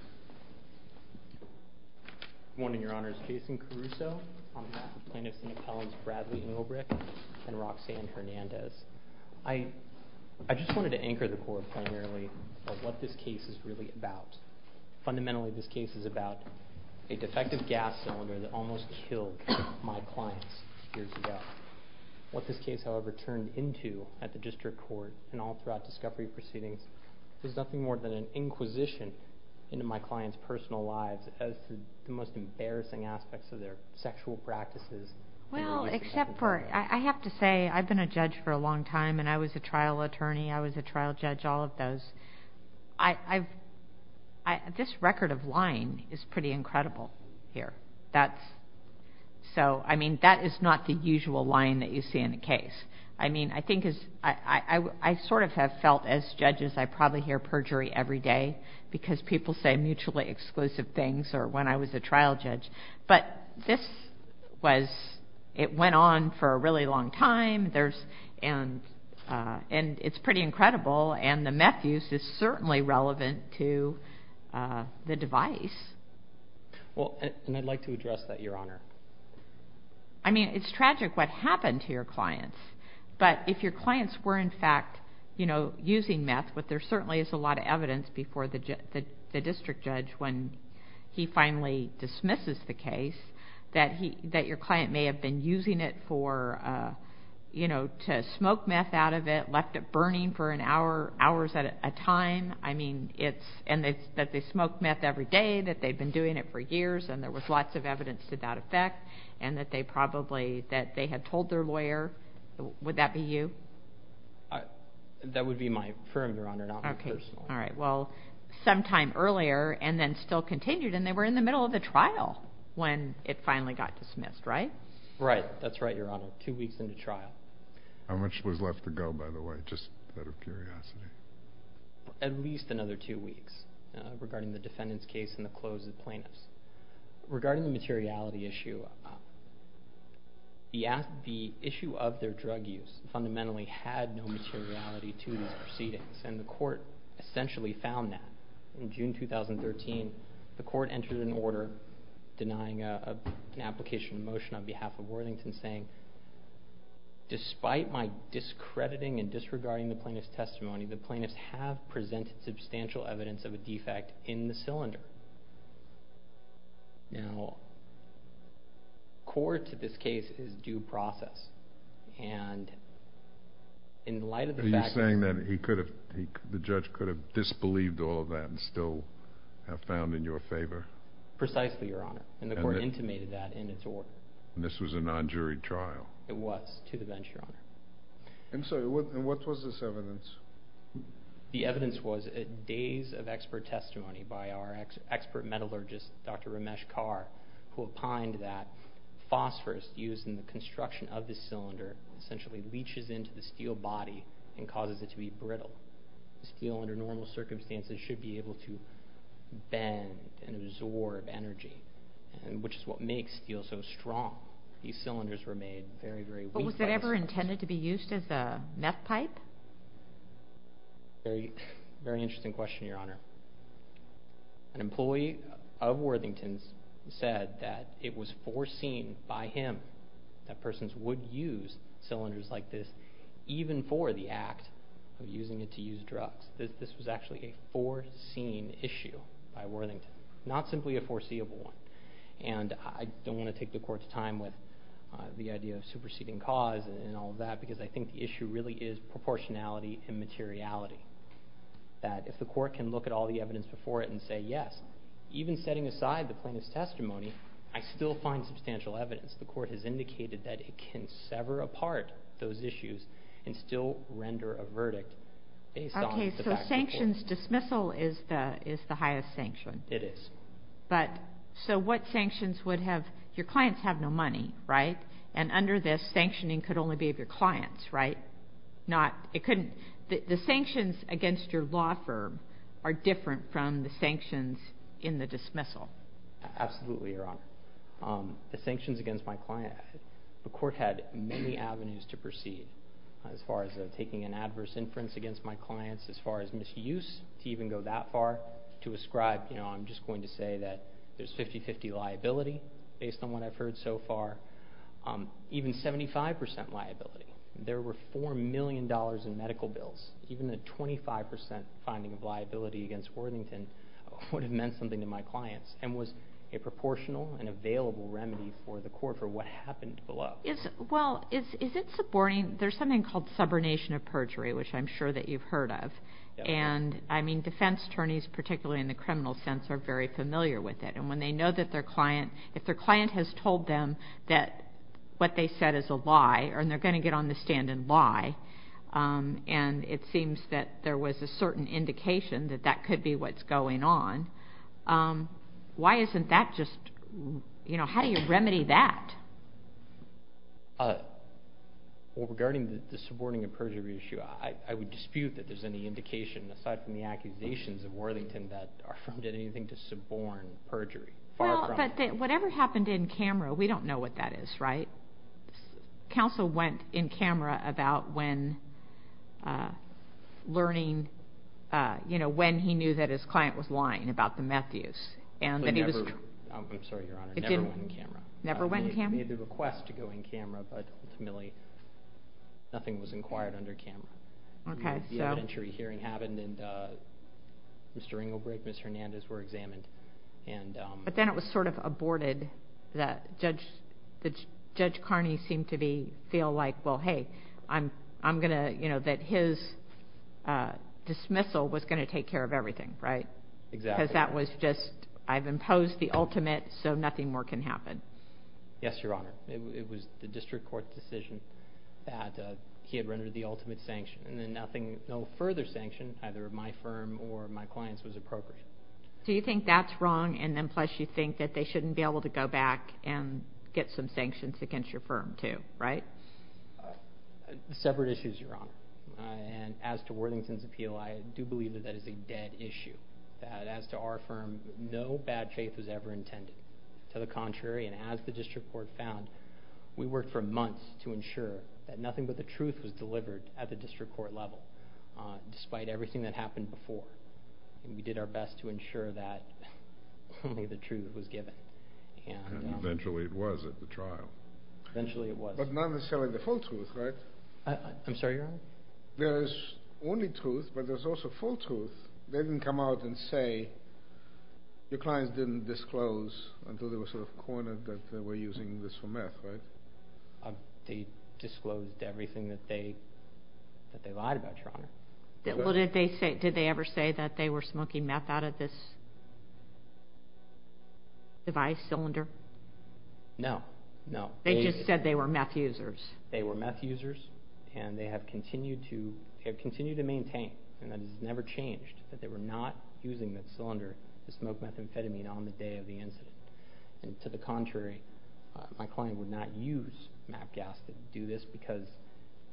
Good morning, Your Honors. Jason Caruso, on behalf of plaintiffs and appellants Bradley Englebrick and Roxanne Hernandez. I just wanted to anchor the court primarily about what this case is really about. Fundamentally, this case is about a defective gas cylinder that almost killed my clients years ago. What this case, however, turned into at the District Court and all throughout discovery proceedings is nothing more than an inquisition into my clients' personal lives as to the most embarrassing aspects of their sexual practices. Well, except for, I have to say, I've been a judge for a long time and I was a trial attorney, I was a trial judge, all of those. This record of lying is pretty incredible here. So, I mean, that is not the usual lying that you see in a case. I mean, I think, I sort of have felt as judges, I probably hear perjury every day because people say mutually exclusive things or when I was a trial judge. But this was, it went on for a really long time and it's pretty incredible and the meth use is certainly relevant to the device. Well, and I'd like to address that, Your Honor. I mean, it's tragic what happened to your clients, but if your clients were in fact, you know, using meth, but there certainly is a lot of evidence before the district judge when he finally dismisses the case that your client may have been using it for, you know, to smoke meth out of it, left it burning for hours at a time. I mean, it's, and that they smoke meth every day, that they've been doing it for years and there was lots of evidence to that effect and that they probably, that they had told their lawyer, would that be you? That would be my firm, Your Honor, not my personal. All right, well, sometime earlier and then still continued and they were in the middle of the trial when it finally got dismissed, right? Right, that's right, Your Honor, two weeks into trial. How much was left to go, by the way, just out of curiosity? At least another two weeks regarding the defendant's case and the close of the plaintiffs. Regarding the materiality issue, the issue of their drug use fundamentally had no materiality to these proceedings and the court essentially found that. In June 2013, the court entered an order denying an application motion on behalf of Worthington saying, despite my discrediting and disregarding the plaintiff's testimony, the plaintiffs have presented substantial evidence of a defect in the cylinder. Now, court, in this case, is due process and in light of the fact that... Are you saying that he could have, the judge could have disbelieved all of that and still have found in your favor? Precisely, Your Honor, and the court intimated that in its order. And this was a non-jury trial? It was, to the bench, Your Honor. And so, what was this evidence? The evidence was days of expert testimony by our expert metallurgist, Dr. Ramesh Kaur, who opined that phosphorus used in the construction of this cylinder essentially leaches into the steel body and causes it to be brittle. Steel, under normal circumstances, should be able to bend and absorb energy, which is what makes steel so strong. These cylinders were made very, very weakly. But was it ever intended to be used as a meth pipe? Very interesting question, Your Honor. An employee of Worthington's said that it was foreseen by him that persons would use cylinders like this, even for the act of using it to use drugs. This was actually a foreseen issue by Worthington, not simply a foreseeable one. And I don't want to take the court's time with the idea of superseding cause and all of that, because I think the issue really is proportionality and materiality, that if the court can look at all the evidence before it and say yes, even setting aside the plaintiff's testimony, I still find substantial evidence. The court has indicated that it can sever apart those issues and still render a verdict. Okay, so sanctions dismissal is the highest sanction. It is. So what sanctions would have – your clients have no money, right? And under this, sanctioning could only be of your clients, right? The sanctions against your law firm are different from the sanctions in the dismissal. Absolutely, Your Honor. The sanctions against my client, the court had many avenues to proceed as far as taking an adverse inference against my clients, as far as misuse to even go that far, to ascribe, you know, I'm just going to say that there's 50-50 liability based on what I've heard so far, even 75% liability. There were $4 million in medical bills. Even a 25% finding of liability against Worthington would have meant something to my clients and was a proportional and available remedy for the court for what happened below. Well, is it supporting – there's something called subordination of perjury, which I'm sure that you've heard of. And, I mean, defense attorneys, particularly in the criminal sense, are very familiar with it. And when they know that their client – if their client has told them that what they said is a lie and it seems that there was a certain indication that that could be what's going on, why isn't that just – you know, how do you remedy that? Well, regarding the subordination of perjury issue, I would dispute that there's any indication, aside from the accusations of Worthington, that our firm did anything to suborn perjury. Well, but whatever happened in camera, we don't know what that is, right? Counsel went in camera about when learning – you know, when he knew that his client was lying about the meth use. I'm sorry, Your Honor, it never went in camera. It never went in camera? It made the request to go in camera, but ultimately nothing was inquired under camera. Okay, so – The evidentiary hearing happened, and Mr. Ringelbreg and Ms. Hernandez were examined. But then it was sort of aborted that Judge Carney seemed to be – feel like, well, hey, I'm going to – you know, that his dismissal was going to take care of everything, right? Exactly. Because that was just, I've imposed the ultimate, so nothing more can happen. Yes, Your Honor. It was the district court decision that he had rendered the ultimate sanction, and then nothing – no further sanction either of my firm or my clients was appropriate. So you think that's wrong, and then plus you think that they shouldn't be able to go back and get some sanctions against your firm too, right? Separate issues, Your Honor. And as to Worthington's appeal, I do believe that that is a dead issue, that as to our firm, no bad faith was ever intended. To the contrary, and as the district court found, we worked for months to ensure that nothing but the truth was delivered at the district court level, despite everything that happened before. We did our best to ensure that only the truth was given. And eventually it was at the trial. Eventually it was. But not necessarily the full truth, right? I'm sorry, Your Honor? There is only truth, but there's also full truth. They didn't come out and say your clients didn't disclose until they were sort of cornered that they were using this for meth, right? They disclosed everything that they lied about, Your Honor. Did they ever say that they were smoking meth out of this device, cylinder? No, no. They just said they were meth users. They were meth users, and they have continued to maintain, and that has never changed, that they were not using the cylinder to smoke methamphetamine on the day of the incident. And to the contrary, my client would not use meth gas to do this because,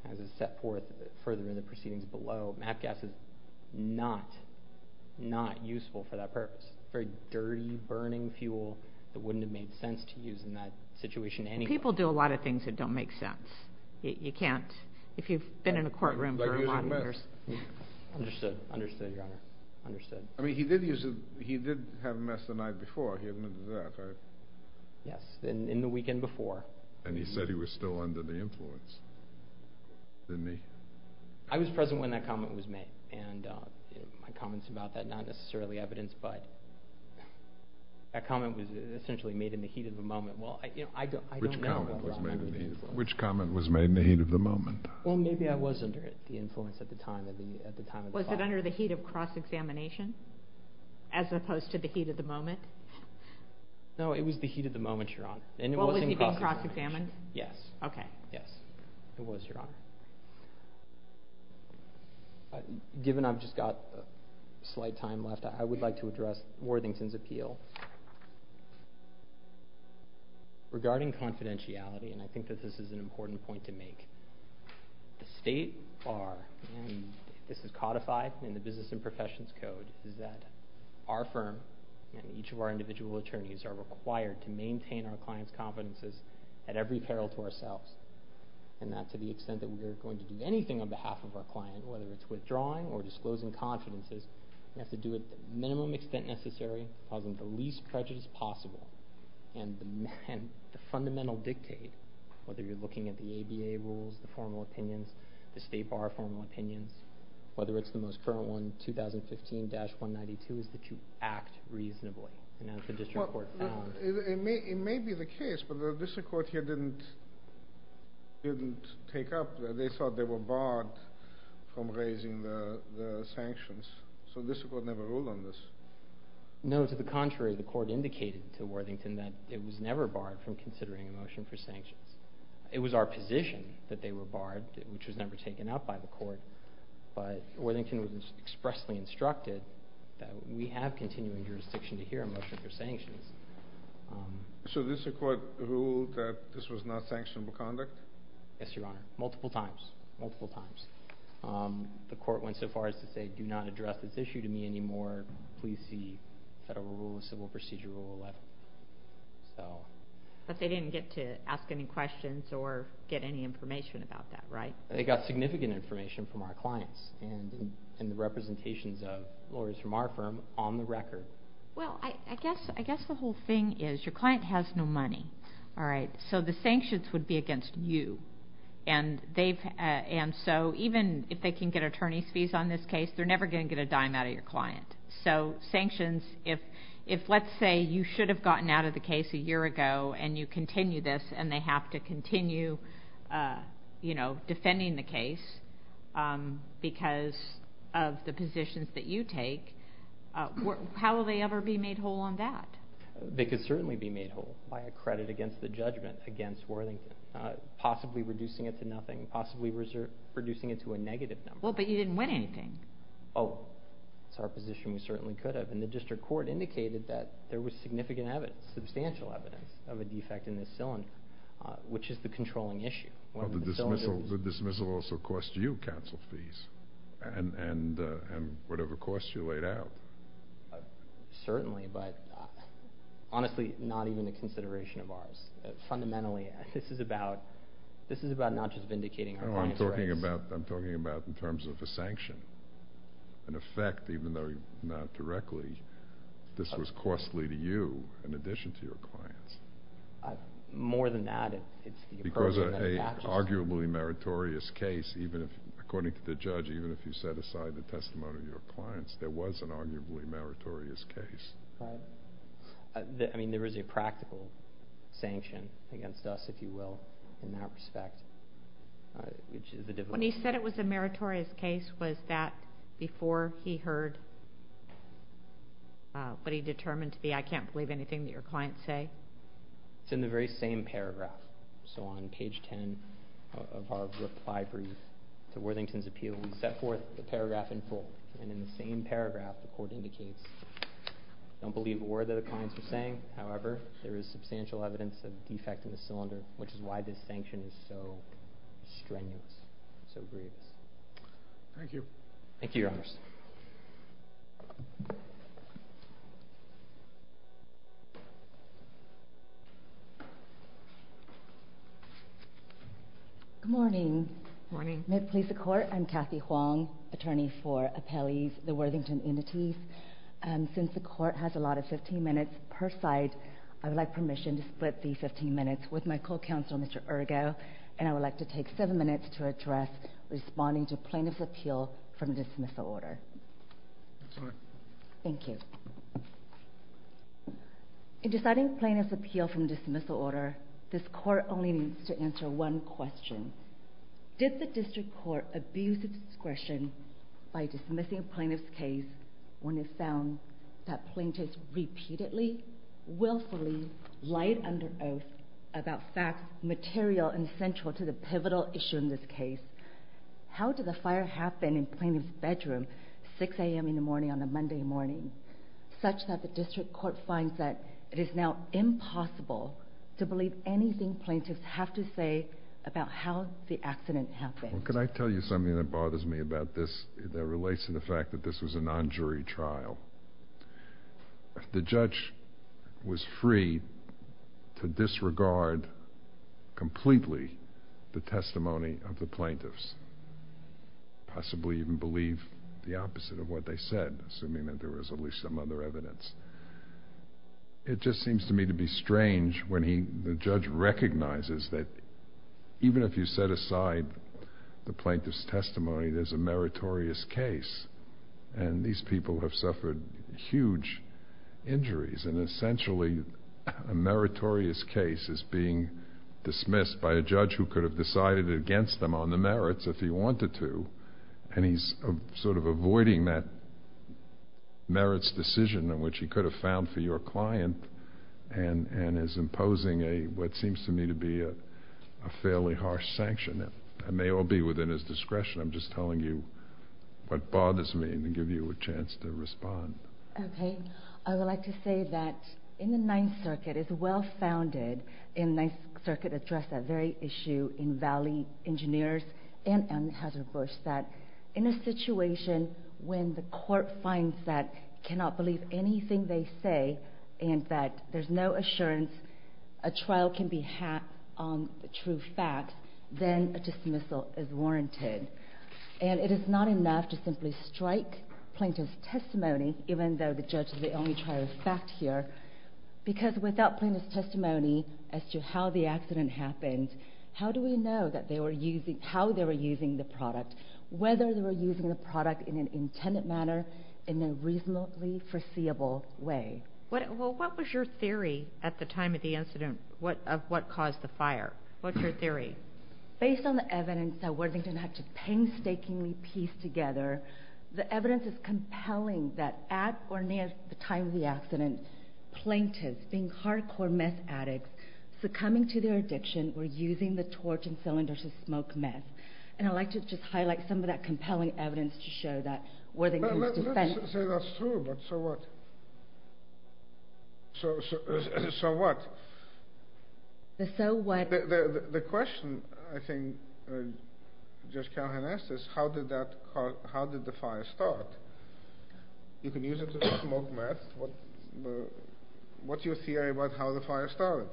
as is set forth further in the proceedings below, meth gas is not useful for that purpose. It's a very dirty, burning fuel that wouldn't have made sense to use in that situation anyway. People do a lot of things that don't make sense. You can't, if you've been in a courtroom for a lot of years. Like using meth. Understood, understood, Your Honor, understood. I mean, he did have meth the night before. He admitted to that, right? Yes, in the weekend before. And he said he was still under the influence, didn't he? I was present when that comment was made, and my comments about that are not necessarily evidence, but that comment was essentially made in the heat of the moment. Which comment was made in the heat of the moment? Well, maybe I was under the influence at the time. Was it under the heat of cross-examination, as opposed to the heat of the moment? No, it was the heat of the moment, Your Honor. Well, was he being cross-examined? Yes. Okay. Yes, he was, Your Honor. Given I've just got a slight time left, I would like to address Worthington's appeal. Regarding confidentiality, and I think that this is an important point to make, the state bar, and this is codified in the Business and Professions Code, is that our firm and each of our individual attorneys are required to maintain our client's confidences at every peril to ourselves, and that to the extent that we are going to do anything on behalf of our client, whether it's withdrawing or disclosing confidences, we have to do it to the minimum extent necessary, causing the least prejudice possible. And the fundamental dictate, whether you're looking at the ABA rules, the formal opinions, the state bar formal opinions, whether it's the most current one, 2015-192, is that you act reasonably. It may be the case, but the district court here didn't take up, they thought they were barred from raising the sanctions, so the district court never ruled on this. No, to the contrary. The court indicated to Worthington that it was never barred from considering a motion for sanctions. It was our position that they were barred, which was never taken up by the court, but Worthington was expressly instructed that we have continuing jurisdiction to hear a motion for sanctions. So the district court ruled that this was not sanctionable conduct? Yes, Your Honor. Multiple times. Multiple times. The court went so far as to say, do not address this issue to me anymore. Please see Federal Rule of Civil Procedure Rule 11. But they didn't get to ask any questions or get any information about that, right? They got significant information from our clients and the representations of lawyers from our firm on the record. Well, I guess the whole thing is your client has no money, all right? So the sanctions would be against you, and so even if they can get attorney's fees on this case, they're never going to get a dime out of your client. So sanctions, if, let's say, you should have gotten out of the case a year ago and you continue this and they have to continue, you know, because of the positions that you take, how will they ever be made whole on that? They could certainly be made whole by a credit against the judgment against Worthington, possibly reducing it to nothing, possibly reducing it to a negative number. Well, but you didn't win anything. Oh, that's our position. We certainly could have. And the district court indicated that there was significant evidence, substantial evidence of a defect in this cylinder, which is the controlling issue. Well, the dismissal also cost you counsel fees and whatever costs you laid out. Certainly, but honestly, not even a consideration of ours. Fundamentally, this is about not just vindicating our client's rights. No, I'm talking about in terms of a sanction. In effect, even though not directly, this was costly to you in addition to your clients. More than that, it's the approach that attaches. Because of an arguably meritorious case, according to the judge, even if you set aside the testimony of your clients, there was an arguably meritorious case. Right. I mean, there is a practical sanction against us, if you will, in that respect, which is the difficulty. When he said it was a meritorious case, was that before he heard what he determined to be, I can't believe anything that your clients say. It's in the very same paragraph. So on page 10 of our reply brief to Worthington's appeal, we set forth the paragraph in full. And in the same paragraph, the court indicates, I don't believe a word that the clients are saying. However, there is substantial evidence of a defect in the cylinder, which is why this sanction is so strenuous, so grievous. Thank you. Thank you, Your Honor. Good morning. Good morning. May it please the court, I'm Kathy Huang, attorney for appellees, the Worthington entities. Since the court has a lot of 15 minutes per side, I would like permission to split the 15 minutes with my co-counsel, Mr. Ergo, and I would like to take seven minutes to address responding to plaintiff's appeal from dismissal order. That's all right. Thank you. In deciding plaintiff's appeal from dismissal order, this court only needs to answer one question. Did the district court abuse its discretion by dismissing plaintiff's case when it found that plaintiffs repeatedly, willfully, lied under oath about facts material and central to the pivotal issue in this case? How did the fire happen in plaintiff's bedroom at, say, 6 a.m. in the morning on a Monday morning, such that the district court finds that it is now impossible to believe anything plaintiffs have to say about how the accident happened? Can I tell you something that bothers me about this that relates to the fact that this was a non-jury trial? The judge was free to disregard completely the testimony of the plaintiffs, possibly even believe the opposite of what they said, assuming that there was at least some other evidence. It just seems to me to be strange when the judge recognizes that even if you set aside the plaintiff's testimony, there's a meritorious case, and these people have suffered huge injuries, and essentially a meritorious case is being dismissed by a judge who could have decided against them on the merits if he wanted to, and he's sort of avoiding that merits decision in which he could have found for your client and is imposing what seems to me to be a fairly harsh sanction. It may all be within his discretion. I'm just telling you what bothers me to give you a chance to respond. Okay. I would like to say that in the Ninth Circuit, it's well-founded in the Ninth Circuit to address that very issue in Valley Engineers and in Hazard Bush, that in a situation when the court finds that cannot believe anything they say and that there's no assurance a trial can be a true fact, then a dismissal is warranted. And it is not enough to simply strike plaintiff's testimony, even though the judge is the only trial of fact here, because without plaintiff's testimony as to how the accident happened, how do we know how they were using the product, whether they were using the product in an intended manner, in a reasonably foreseeable way? Well, what was your theory at the time of the incident of what caused the fire? What's your theory? Based on the evidence that Worthington had to painstakingly piece together, the evidence is compelling that at or near the time of the accident, plaintiffs, being hardcore meth addicts, succumbing to their addiction, were using the torch and cylinder to smoke meth. And I'd like to just highlight some of that compelling evidence to show that Worthington's defense... Let me say that's true, but so what? So what? The so what... The question, I think, Judge Callahan asked is, how did the fire start? You can use it to smoke meth. What's your theory about how the fire started?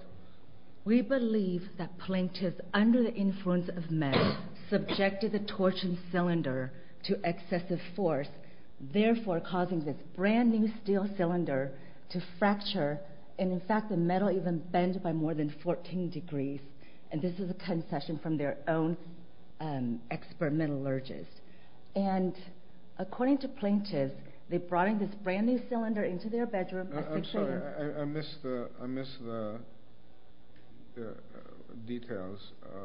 We believe that plaintiffs, under the influence of meth, subjected the torch and cylinder to excessive force, therefore causing this brand new steel cylinder to fracture, and in fact the metal even bent by more than 14 degrees. And this is a concession from their own experimental urges. And according to plaintiffs, they brought in this brand new cylinder into their bedroom... I'm sorry, I missed the details.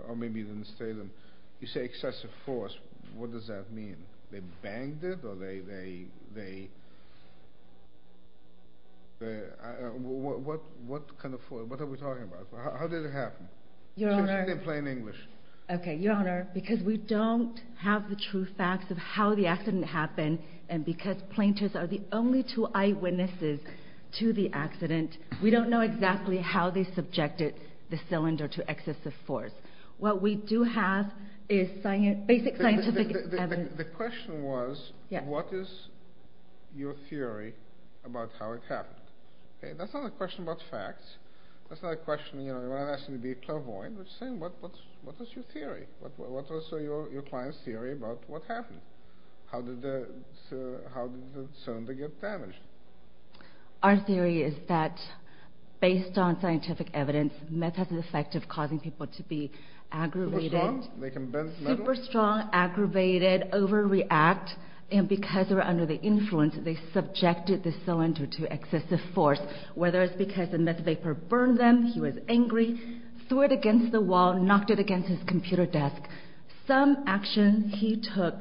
Or maybe you didn't say them. You say excessive force, what does that mean? They banged it, or they... What kind of force, what are we talking about? How did it happen? Say it in plain English. Okay, Your Honor, because we don't have the true facts of how the accident happened, and because plaintiffs are the only two eyewitnesses to the accident, we don't know exactly how they subjected the cylinder to excessive force. What we do have is basic scientific evidence. The question was, what is your theory about how it happened? That's not a question about facts. That's not a question, you know, what was your theory? What was your client's theory about what happened? How did the cylinder get damaged? Our theory is that, based on scientific evidence, meth has an effect of causing people to be aggravated... Super strong? They can bend metal? Super strong, aggravated, overreact, and because they were under the influence, they subjected the cylinder to excessive force, he was angry, threw it against the wall, knocked it against his computer desk. Some actions he took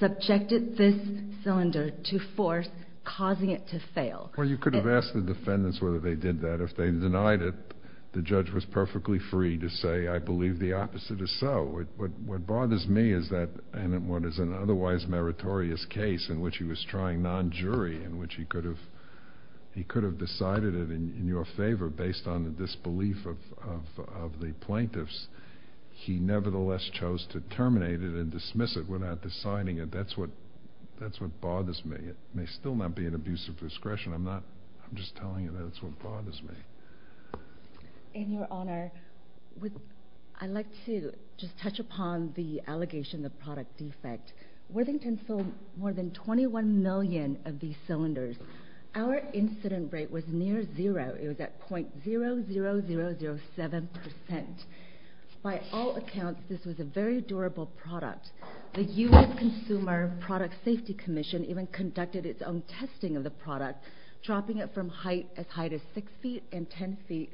subjected this cylinder to force, causing it to fail. Well, you could have asked the defendants whether they did that. If they denied it, the judge was perfectly free to say, I believe the opposite is so. What bothers me is that, and what is an otherwise meritorious case in which he was trying non-jury, in which he could have decided it in your favor based on the disbelief of the plaintiffs, he nevertheless chose to terminate it and dismiss it without deciding it. That's what bothers me. It may still not be an abuse of discretion. I'm just telling you that's what bothers me. In your honor, I'd like to just touch upon the allegation of product defect. Worthington sold more than 21 million of these cylinders. Our incident rate was near zero. It was at .00007%. By all accounts, this was a very durable product. The U.S. Consumer Product Safety Commission even conducted its own testing of the product, dropping it from height as high as 6 feet and 10 feet,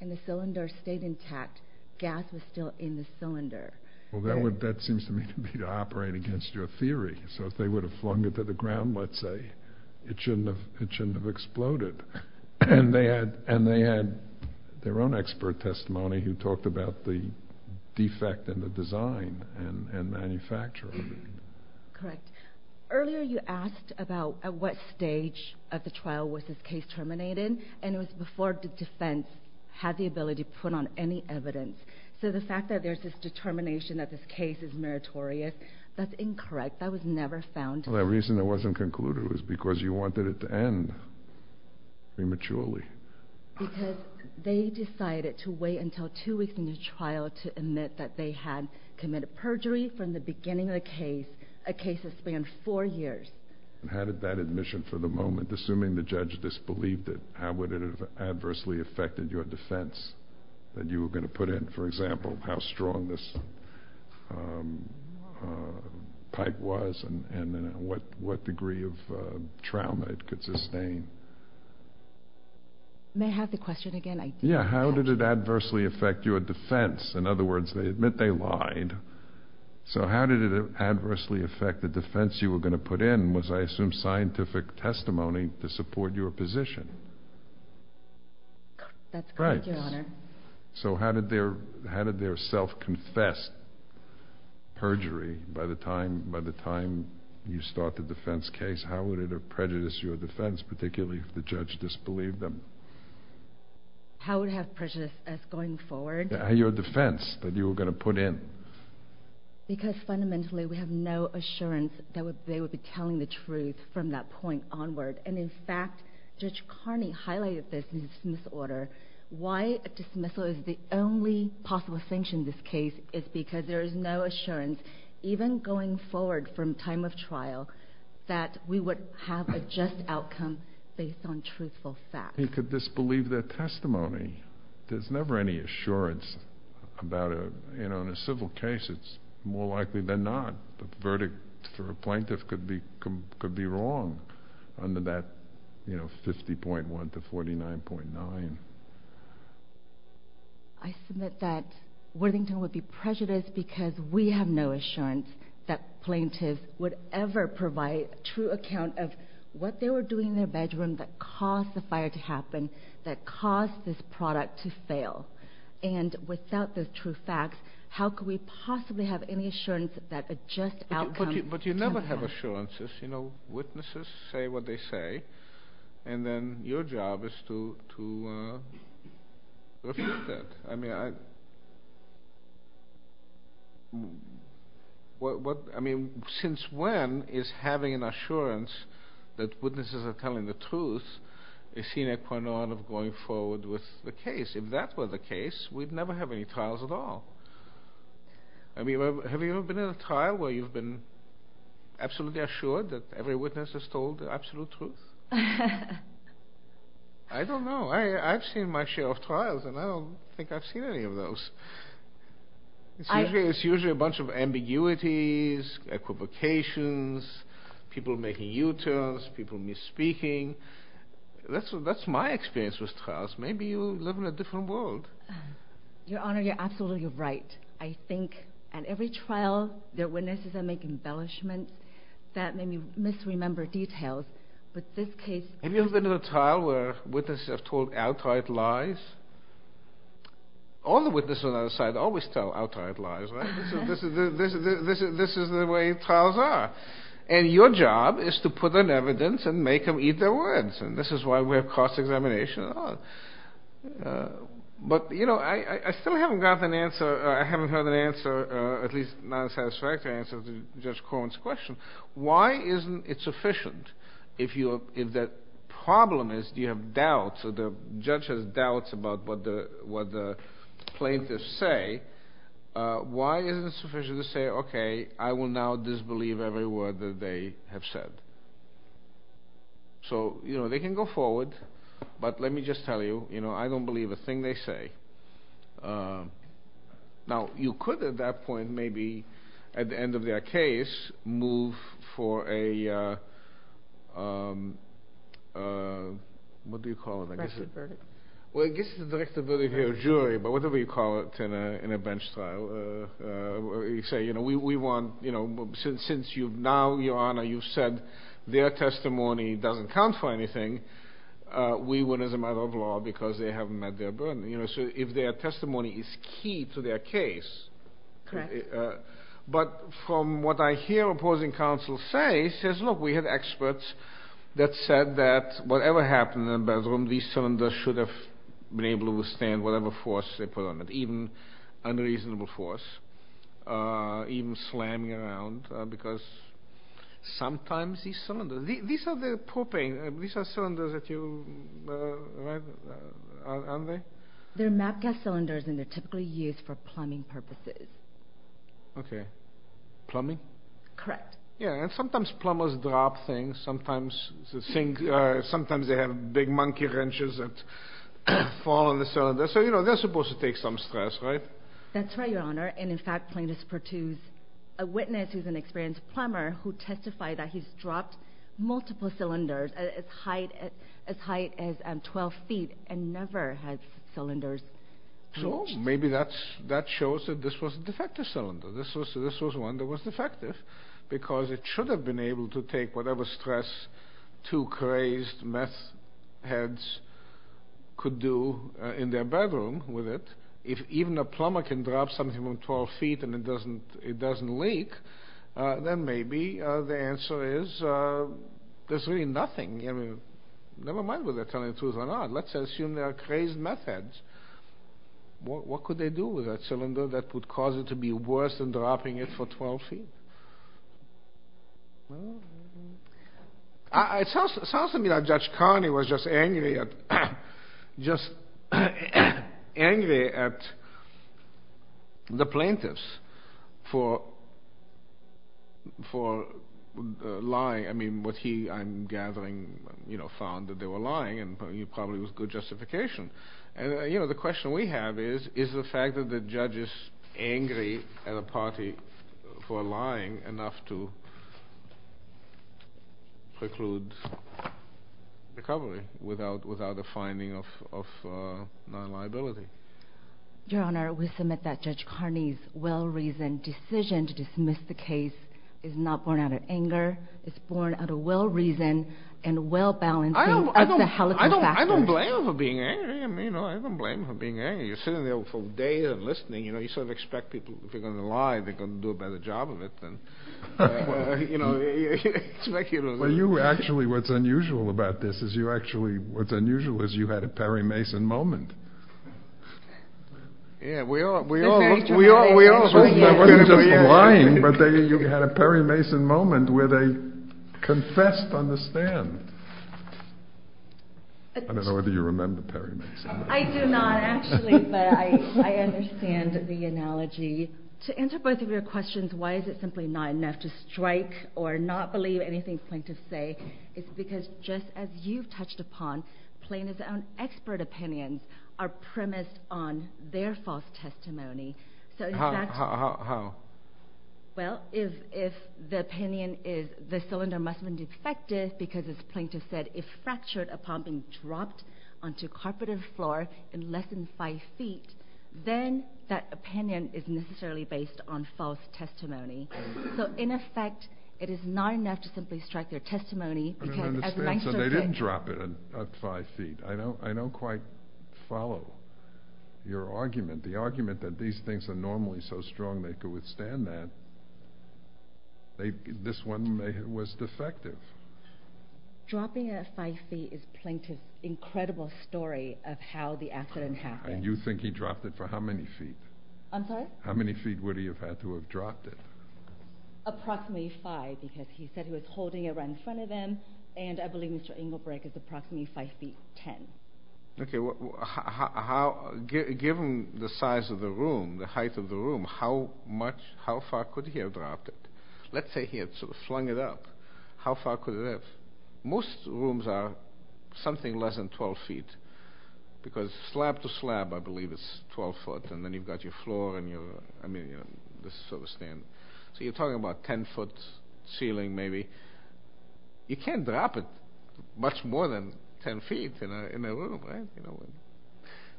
and the cylinder stayed intact. Gas was still in the cylinder. Well, that seems to me to be operating against your theory. So if they would have flung it to the ground, let's say, it shouldn't have exploded. And they had their own expert testimony who talked about the defect in the design and manufacture of it. Correct. Earlier you asked about at what stage of the trial was this case terminated, and it was before the defense had the ability to put on any evidence. So the fact that there's this determination that this case is meritorious, that's incorrect. That was never found. The reason it wasn't concluded was because you wanted it to end prematurely. Because they decided to wait until 2 weeks into trial to admit that they had committed perjury from the beginning of the case, a case that spanned 4 years. How did that admission for the moment, assuming the judge disbelieved it, how would it have adversely affected your defense that you were going to put in? For example, how strong this pipe was and what degree of trauma it could sustain. May I have the question again? Yeah, how did it adversely affect your defense? In other words, they admit they lied. So how did it adversely affect the defense you were going to put in? Was, I assume, scientific testimony to support your position. That's correct, Your Honor. So how did their self confess perjury by the time you started the defense case? How would it have prejudiced your defense, particularly if the judge disbelieved them? How would it have prejudiced us going forward? Your defense that you were going to put in. Because fundamentally we have no assurance that they would be telling the truth from that point onward. And in fact, Judge Carney highlighted this in his order. Why a dismissal is the only possible sanction in this case is because there is no assurance, even going forward from time of trial, that we would have a just outcome based on truthful facts. He could disbelieve their testimony. There's never any assurance about it. In a civil case, it's more likely than not. The verdict for a plaintiff could be wrong under that 50.1 to 49.9. I submit that Worthington would be prejudiced because we have no assurance that plaintiffs would ever provide a true account of what they were doing in their bedroom that caused the fire to happen, that caused this product to fail. And without those true facts, how could we possibly have any assurance that a just outcome... But you never have assurances. You know, witnesses say what they say. And then your job is to reflect that. I mean, since when is having an assurance that witnesses are telling the truth a sine qua non of going forward with the case? If that were the case, we'd never have any trials at all. Have you ever been in a trial where you've been absolutely assured that every witness has told the absolute truth? I don't know. I've seen my share of trials, and I don't think I've seen any of those. It's usually a bunch of ambiguities, equivocations, people making U-turns, people misspeaking. That's my experience with trials. Maybe you live in a different world. Your Honor, you're absolutely right. I think at every trial, their witnesses are making embellishment. That may be misremembered details, but this case... Have you ever been to a trial where witnesses have told outright lies? All the witnesses on the other side always tell outright lies, right? This is the way trials are. And your job is to put in evidence and make them eat their words. And this is why we have cross-examination. But, you know, I still haven't gotten an answer, at least not a satisfactory answer to Judge Corwin's question. Why isn't it sufficient if the problem is you have doubts, or the judge has doubts about what the plaintiffs say, why isn't it sufficient to say, okay, I will now disbelieve every word that they have said? So, you know, they can go forward, but let me just tell you, you know, I don't believe a thing they say. Now, you could at that point maybe, at the end of their case, move for a... What do you call it? Directed verdict. Well, I guess it's a directed verdict of your jury, but whatever you call it in a bench trial, where you say, you know, we want, you know, since now, your Honor, you've said their testimony doesn't count for anything, we win as a matter of law because they haven't met their burden. You know, so if their testimony is key to their case, but from what I hear opposing counsel say, says, look, we have experts that said that whatever happened in the bedroom, these cylinders should have been able to withstand whatever force they put on it, even unreasonable force, even slamming around, because sometimes these cylinders, these are the propane, these are cylinders that you, right? Aren't they? They're map gas cylinders, and they're typically used for plumbing purposes. Okay. Plumbing? Correct. Yeah, and sometimes plumbers drop things. Sometimes they have big monkey wrenches that fall on the cylinder. So, you know, they're supposed to take some stress, right? That's right, Your Honor. And, in fact, plaintiffs produce a witness who's an experienced plumber who testified that he's dropped multiple cylinders as high as 12 feet and never has cylinders changed. Well, maybe that shows that this was a defective cylinder. This was one that was defective because it should have been able to take whatever stress two crazed meth heads could do in their bedroom with it. If even a plumber can drop something from 12 feet and it doesn't leak, then maybe the answer is there's really nothing. I mean, never mind whether they're telling the truth or not. Let's assume there are crazed meth heads. What could they do with that cylinder that would cause it to be worse than dropping it for 12 feet? It sounds to me like Judge Carney was just angry at the plaintiffs for lying. I mean, what he, I'm gathering, found that they were lying and probably with good justification. You know, the question we have is, is the fact that the judge is angry at a party for lying enough to preclude recovery without a finding of non-liability? Your Honor, we submit that Judge Carney's well-reasoned decision to dismiss the case is not born out of anger. It's born out of well-reason and well-balancing of the helical factors. I don't blame him for being angry. I don't blame him for being angry. You're sitting there for days and listening. You sort of expect people, if they're going to lie, they're going to do a better job of it. Well, you actually, what's unusual about this is you actually, what's unusual is you had a Perry Mason moment. Yeah, we all, we all, we all, we all. It wasn't just lying, but you had a Perry Mason moment where they confessed on the stand. I don't know whether you remember Perry Mason. I do not, actually, but I understand the analogy. To answer both of your questions, why is it simply not enough to strike or not believe anything Plaintiff say, it's because just as you've touched upon, Plaintiff's own expert opinions are premised on their false testimony. How? Well, if the opinion is the cylinder must have been defective because as Plaintiff said, if fractured upon being dropped onto carpeted floor in less than five feet, then that opinion is necessarily based on false testimony. So, in effect, it is not enough to simply strike their testimony. I don't understand, so they didn't drop it at five feet. I don't quite follow your argument. The argument that these things are normally so strong they could withstand that, this one was defective. Dropping it at five feet is Plaintiff's incredible story of how the accident happened. And you think he dropped it for how many feet? I'm sorry? How many feet would he have had to have dropped it? Approximately five because he said he was holding it right in front of him and I believe Mr. Engelbrecht is approximately five feet ten. Okay, given the size of the room, the height of the room, how much, how far could he have dropped it? Let's say he had sort of flung it up. How far could it have? Most rooms are something less than 12 feet because slab to slab I believe is 12 foot and then you've got your floor and your, I mean, you know, this sort of stand. So you're talking about 10 foot ceiling maybe. You can't drop it much more than 10 feet in a room, right?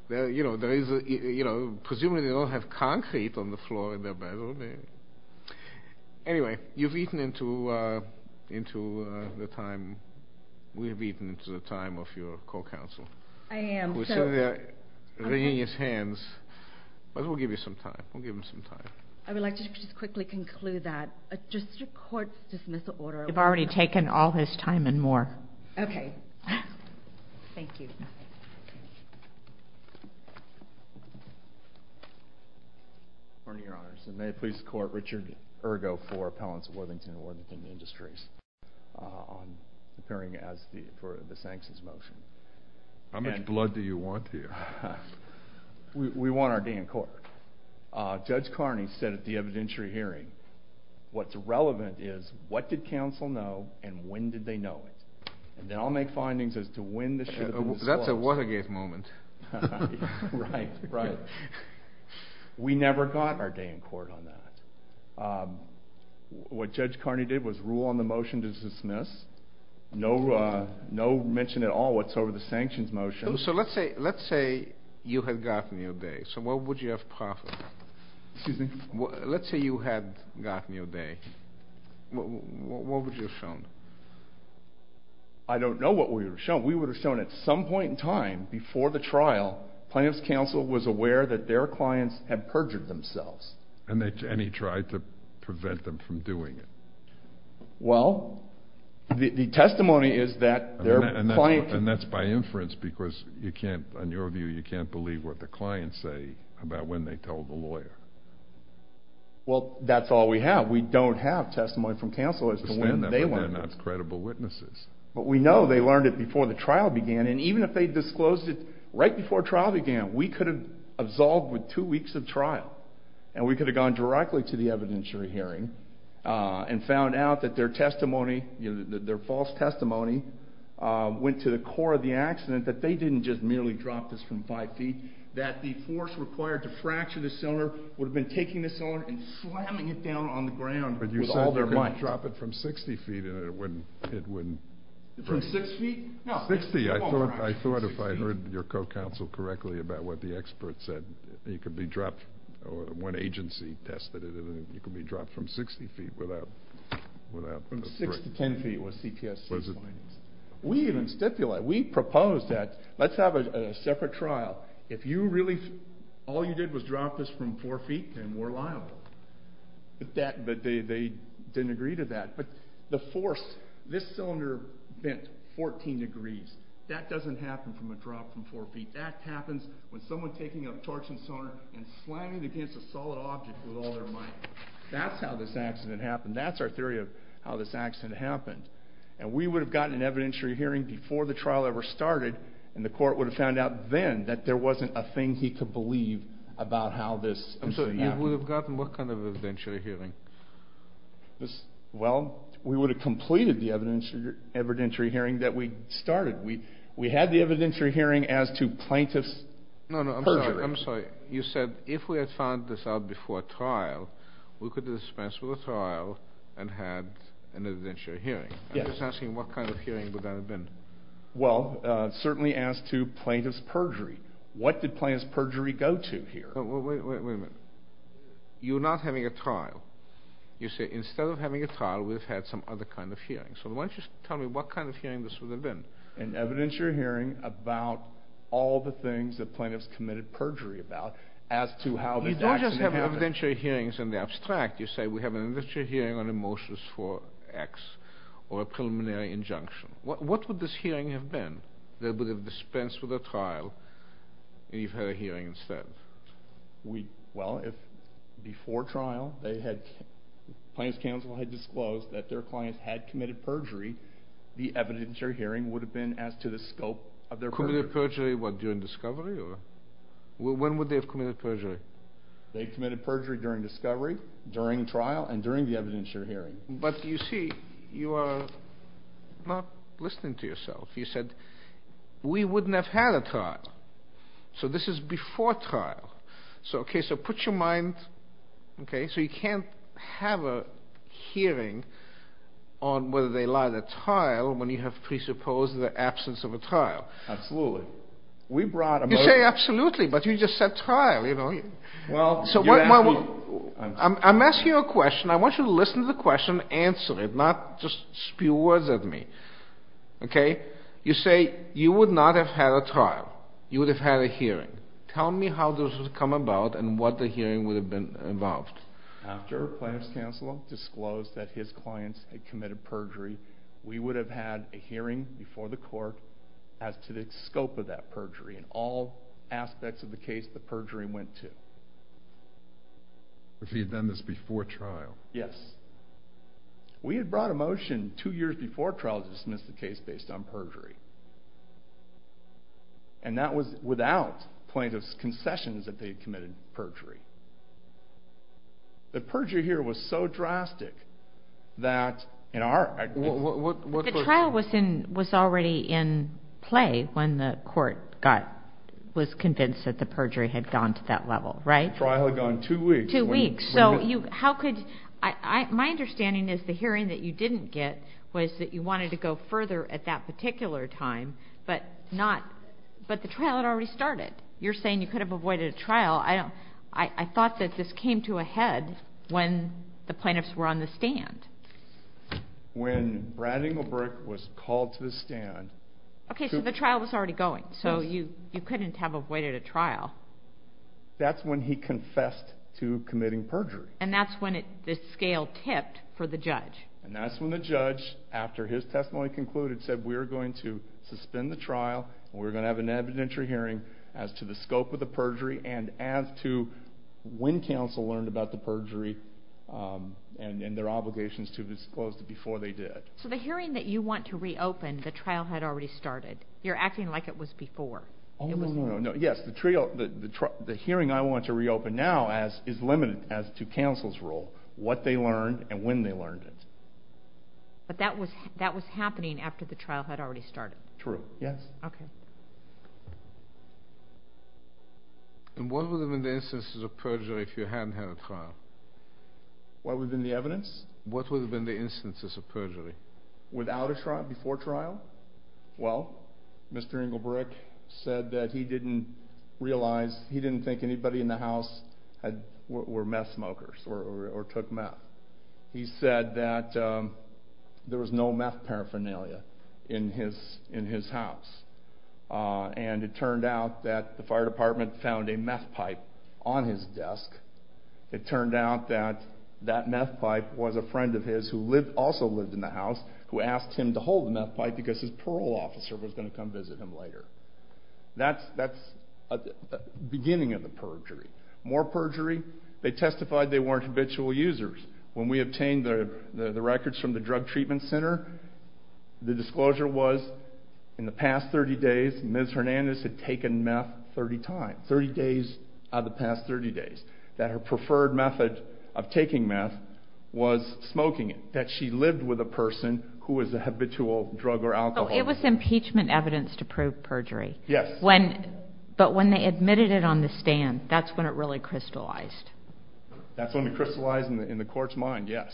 You know, presumably they don't have concrete on the floor in their bedroom. Anyway, you've eaten into the time. We've eaten into the time of your court counsel. I am. We're seeing his hands. But we'll give you some time. We'll give him some time. I would like to just quickly conclude that. Does the court dismiss the order? You've already taken all his time and more. Okay. Thank you. Your Honor, may I please court Richard Ergo for Appellants of Worthington and Worthington Industries appearing for the sanctions motion. How much blood do you want here? We want our day in court. Judge Carney said at the evidentiary hearing, what's relevant is what did counsel know and when did they know it. And then I'll make findings as to when this should have been disclosed. That's a Watergate moment. Right, right. We never got our day in court on that. What Judge Carney did was rule on the motion to dismiss. No mention at all what's over the sanctions motion. So let's say you had gotten your day. So what would you have found? Let's say you had gotten your day. What would you have shown? I don't know what we would have shown. We would have shown at some point in time, before the trial, plaintiff's counsel was aware that their clients had perjured themselves. And he tried to prevent them from doing it. Well, the testimony is that their client. And that's by inference because you can't, in your view, you can't believe what the clients say about when they told the lawyer. Well, that's all we have. We don't have testimony from counsel as to when they learned it. They're not credible witnesses. But we know they learned it before the trial began. And even if they disclosed it right before trial began, we could have absolved with two weeks of trial. And we could have gone directly to the evidentiary hearing and found out that their testimony, their false testimony, went to the core of the accident, that they didn't just merely drop this from five feet, that the force required to fracture the cylinder would have been taking the cylinder and slamming it down on the ground with all their might. But you said they're going to drop it from 60 feet and it wouldn't. From six feet? No. Sixty. I thought if I heard your co-counsel correctly about what the expert said, it could be dropped or one agency tested it and it could be dropped from 60 feet without a break. Six to ten feet was CPSC's findings. We even stipulated, we proposed that let's have a separate trial. If all you did was drop this from four feet, then we're liable. But they didn't agree to that. But the force, this cylinder bent 14 degrees. That doesn't happen from a drop from four feet. That happens when someone's taking a torch and so on and slamming it against a solid object with all their might. That's how this accident happened. That's our theory of how this accident happened. We would have gotten an evidentiary hearing before the trial ever started and the court would have found out then that there wasn't a thing he could believe about how this incident happened. You would have gotten what kind of evidentiary hearing? Well, we would have completed the evidentiary hearing that we started. We had the evidentiary hearing as to plaintiff's perjury. No, no, I'm sorry. You said if we had found this out before trial, we could have dispensed with the trial and had an evidentiary hearing. Yes. I'm just asking what kind of hearing would that have been. Well, certainly as to plaintiff's perjury. What did plaintiff's perjury go to here? Wait a minute. You're not having a trial. You say instead of having a trial, we've had some other kind of hearing. So why don't you tell me what kind of hearing this would have been? An evidentiary hearing about all the things that plaintiffs committed perjury about as to how this accident happened. When you say evidentiary hearings in the abstract, you say we have an evidentiary hearing on emotions for X or a preliminary injunction. What would this hearing have been? They would have dispensed with the trial, and you've had a hearing instead. Well, if before trial Plaintiff's Counsel had disclosed that their client had committed perjury, the evidentiary hearing would have been as to the scope of their perjury. Committed perjury during discovery? When would they have committed perjury? They committed perjury during discovery, during trial, and during the evidentiary hearing. But you see, you are not listening to yourself. You said we wouldn't have had a trial. So this is before trial. So put your mind, okay, so you can't have a hearing on whether they lied at trial when you have presupposed the absence of a trial. Absolutely. You say absolutely, but you just said trial. I'm asking you a question. I want you to listen to the question and answer it, not just spew words at me. Okay? You say you would not have had a trial. You would have had a hearing. Tell me how this would have come about and what the hearing would have been involved. After Plaintiff's Counsel disclosed that his clients had committed perjury, we would have had a hearing before the court as to the scope of that perjury and all aspects of the case the perjury went to. If he had done this before trial. Yes. We had brought a motion two years before trial to dismiss the case based on perjury. And that was without Plaintiff's concessions that they had committed perjury. The perjury here was so drastic that in our... The trial was already in play when the court was convinced that the perjury had gone to that level, right? The trial had gone two weeks. Two weeks. My understanding is the hearing that you didn't get was that you wanted to go further at that particular time, but the trial had already started. You're saying you could have avoided a trial. I thought that this came to a head when the plaintiffs were on the stand. When Brad Engelbrook was called to the stand... Okay, so the trial was already going, so you couldn't have avoided a trial. That's when he confessed to committing perjury. And that's when the scale tipped for the judge. And that's when the judge, after his testimony concluded, said, we're going to suspend the trial, we're going to have an evidentiary hearing as to the scope of the perjury and as to when counsel learned about the perjury and their obligations to disclose it before they did. So the hearing that you want to reopen, the trial had already started. You're acting like it was before. Oh, no, no, no. Yes, the hearing I want to reopen now is limited as to counsel's role, what they learned and when they learned it. But that was happening after the trial had already started. True, yes. Okay. And what would have been the instances of perjury if you hadn't had a trial? What would have been the evidence? What would have been the instances of perjury? Without a trial, before trial? Well, Mr. Engelbrook said that he didn't realize, he didn't think anybody in the house were meth smokers or took meth. He said that there was no meth paraphernalia in his house. And it turned out that the fire department found a meth pipe on his desk. It turned out that that meth pipe was a friend of his who also lived in the house who asked him to hold the meth pipe because his parole officer was going to come visit him later. That's the beginning of the perjury. More perjury, they testified they weren't habitual users. When we obtained the records from the drug treatment center, the disclosure was in the past 30 days, Ms. Hernandez had taken meth 30 times, 30 days out of the past 30 days, that her preferred method of taking meth was smoking it, that she lived with a person who was a habitual drug or alcohol user. It was impeachment evidence to prove perjury. Yes. But when they admitted it on the stand, that's when it really crystallized. That's when it crystallized in the court's mind, yes.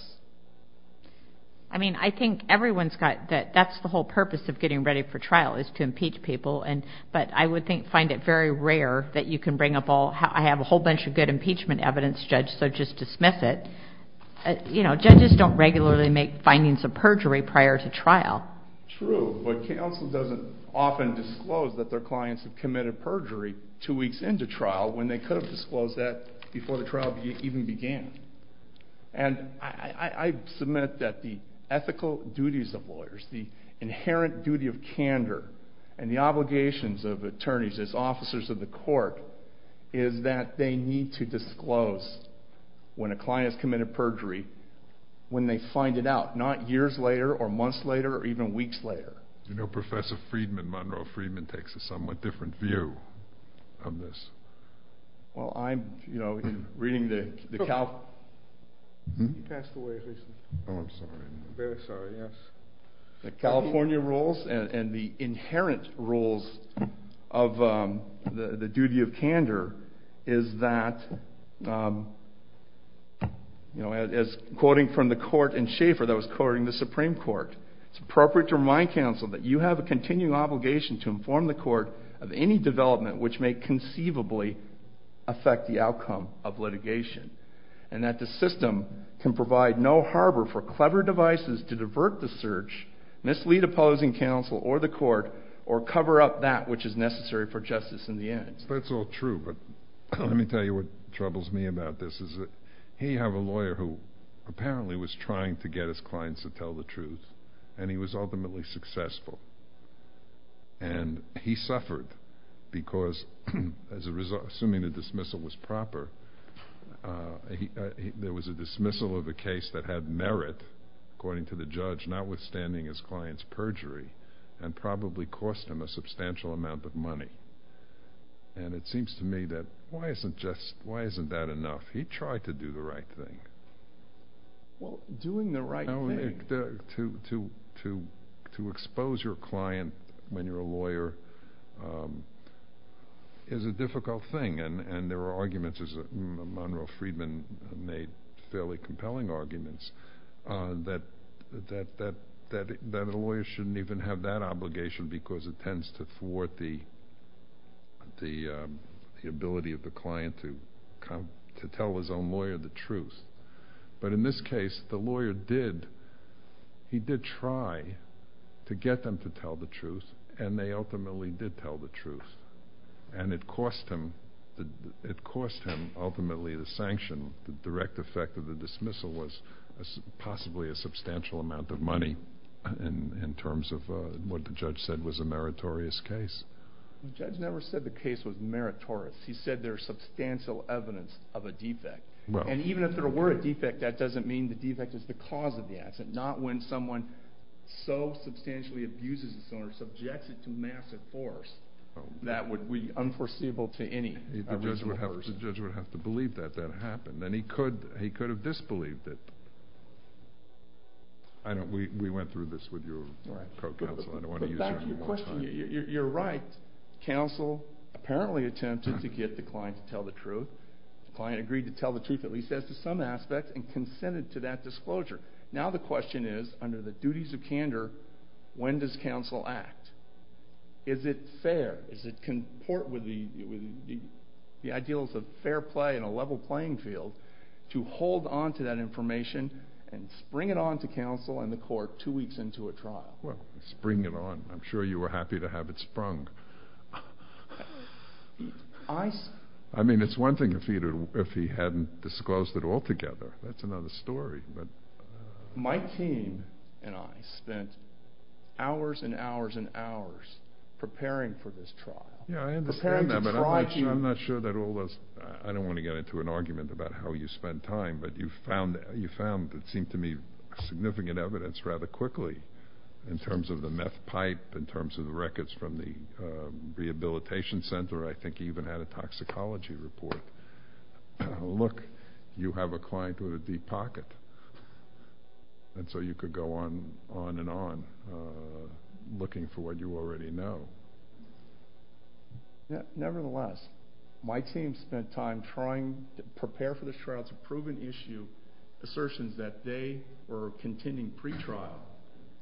I mean, I think everyone's got that. That's the whole purpose of getting ready for trial is to impeach people. But I would find it very rare that you can bring up all, I have a whole bunch of good impeachment evidence, Judge, so just dismiss it. You know, judges don't regularly make findings of perjury prior to trial. True, but counsel doesn't often disclose that their clients have committed perjury two weeks into trial when they could have disclosed that before the trial even began. And I submit that the ethical duties of lawyers, the inherent duty of candor, and the obligations of attorneys as officers of the court, is that they need to disclose when a client has committed perjury, when they find it out, not years later or months later or even weeks later. You know, Professor Freedman, Monroe Freedman, takes a somewhat different view on this. Well, I'm, you know, reading the California rules and the inherent rules of the duty of candor is that, you know, as quoting from the court in Schaefer that was quoting the Supreme Court, it's appropriate to remind counsel that you have a continuing obligation to inform the court of any development which may conceivably affect the outcome of litigation, and that the system can provide no harbor for clever devices to divert the search, mislead opposing counsel or the court, or cover up that which is necessary for justice in the end. That's all true, but let me tell you what troubles me about this. He had a lawyer who apparently was trying to get his clients to tell the truth, and he was ultimately successful. And he suffered because, assuming the dismissal was proper, there was a dismissal of a case that had merit, according to the judge, notwithstanding his client's perjury, and probably cost him a substantial amount of money. And it seems to me that why isn't that enough? He tried to do the right thing. Well, doing the right thing. To expose your client when you're a lawyer is a difficult thing, and there are arguments, as Monroe Freedman made fairly compelling arguments, that a lawyer shouldn't even have that obligation because it tends to thwart the ability of the client to tell his own lawyer the truth. But in this case, the lawyer did. He did try to get them to tell the truth, and they ultimately did tell the truth. And it cost him, ultimately, the sanction. The direct effect of the dismissal was possibly a substantial amount of money in terms of what the judge said was a meritorious case. The judge never said the case was meritorious. He said there is substantial evidence of a defect. And even if there were a defect, that doesn't mean the defect is the cause of the accident, not when someone so substantially abuses the sonar, subjects it to massive force, that would be unforeseeable to any reasonable person. The judge would have to believe that that happened, and he could have disbelieved it. We went through this with your co-counsel. But back to your question, you're right. Counsel apparently attempted to get the client to tell the truth. The client agreed to tell the truth, at least as to some aspect, and consented to that disclosure. Now the question is, under the duties of candor, when does counsel act? Is it fair? Does it comport with the ideals of fair play in a level playing field to hold on to that information and spring it on to counsel and the court two weeks into a trial? Well, spring it on. I'm sure you were happy to have it sprung. I mean, it's one thing if he hadn't disclosed it altogether. That's another story. My team and I spent hours and hours and hours preparing for this trial. Yeah, I understand that, but I'm not sure that all those I don't want to get into an argument about how you spent time, but you found, it seemed to me, significant evidence rather quickly in terms of the meth pipe, in terms of the records from the rehabilitation center. I think you even had a toxicology report. Look, you have a client with a deep pocket, and so you could go on and on looking for what you already know. Nevertheless, my team spent time trying to prepare for this trial to prove an issue, assertions that they were contending pre-trial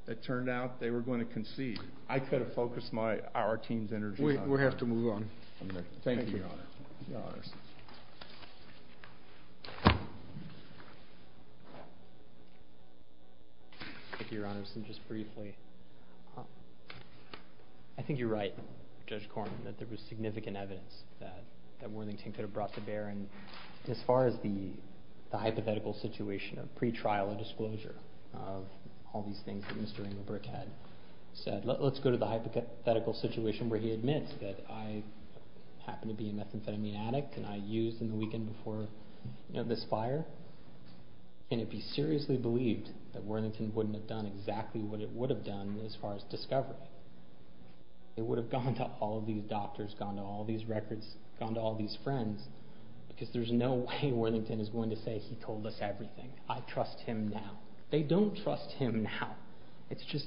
that turned out they were going to concede. I could have focused our team's energy on that. We have to move on. Thank you, Your Honor. Thank you, Your Honor. Just briefly, I think you're right, Judge Corman, that there was significant evidence that Worthington could have brought to bear. As far as the hypothetical situation of pre-trial disclosure of all these things that Mr. Engelbrecht had said, let's go to the hypothetical situation where he admits that I happen to be a methamphetamine addict, and I used in the weekend before this fire, and it'd be seriously believed that Worthington wouldn't have done exactly what it would have done as far as discovery. It would have gone to all these doctors, gone to all these records, gone to all these friends, because there's no way Worthington is going to say he told us everything. I trust him now. They don't trust him now. It's just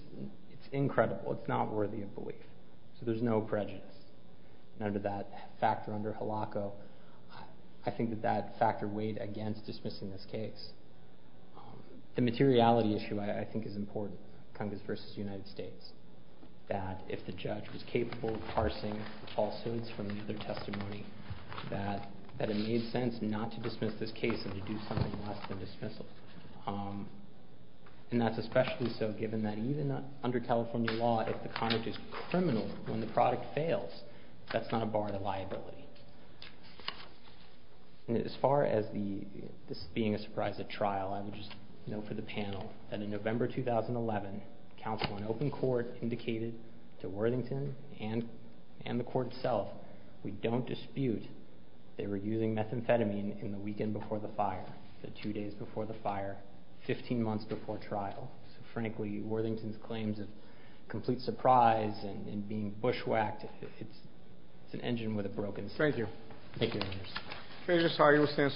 incredible. It's not worthy of belief. So there's no prejudice. Under that factor, under HILACO, I think that that factor weighed against dismissing this case. The materiality issue, I think, is important, Congress versus United States, that if the judge was capable of parsing falsehoods from the other testimony, that it made sense not to dismiss this case and to do something less than dismissal. And that's especially so given that even under California law, if the conduct is criminal when the product fails, that's not a bar to liability. As far as this being a surprise at trial, I would just note for the panel that in November 2011, counsel in open court indicated to Worthington and the court itself, we don't dispute they were using methamphetamine in the weekend before the fire, the two days before the fire, 15 months before trial. So, frankly, Worthington's claims of complete surprise and being bushwhacked, it's an engine with a broken cylinder. Thank you. Thank you.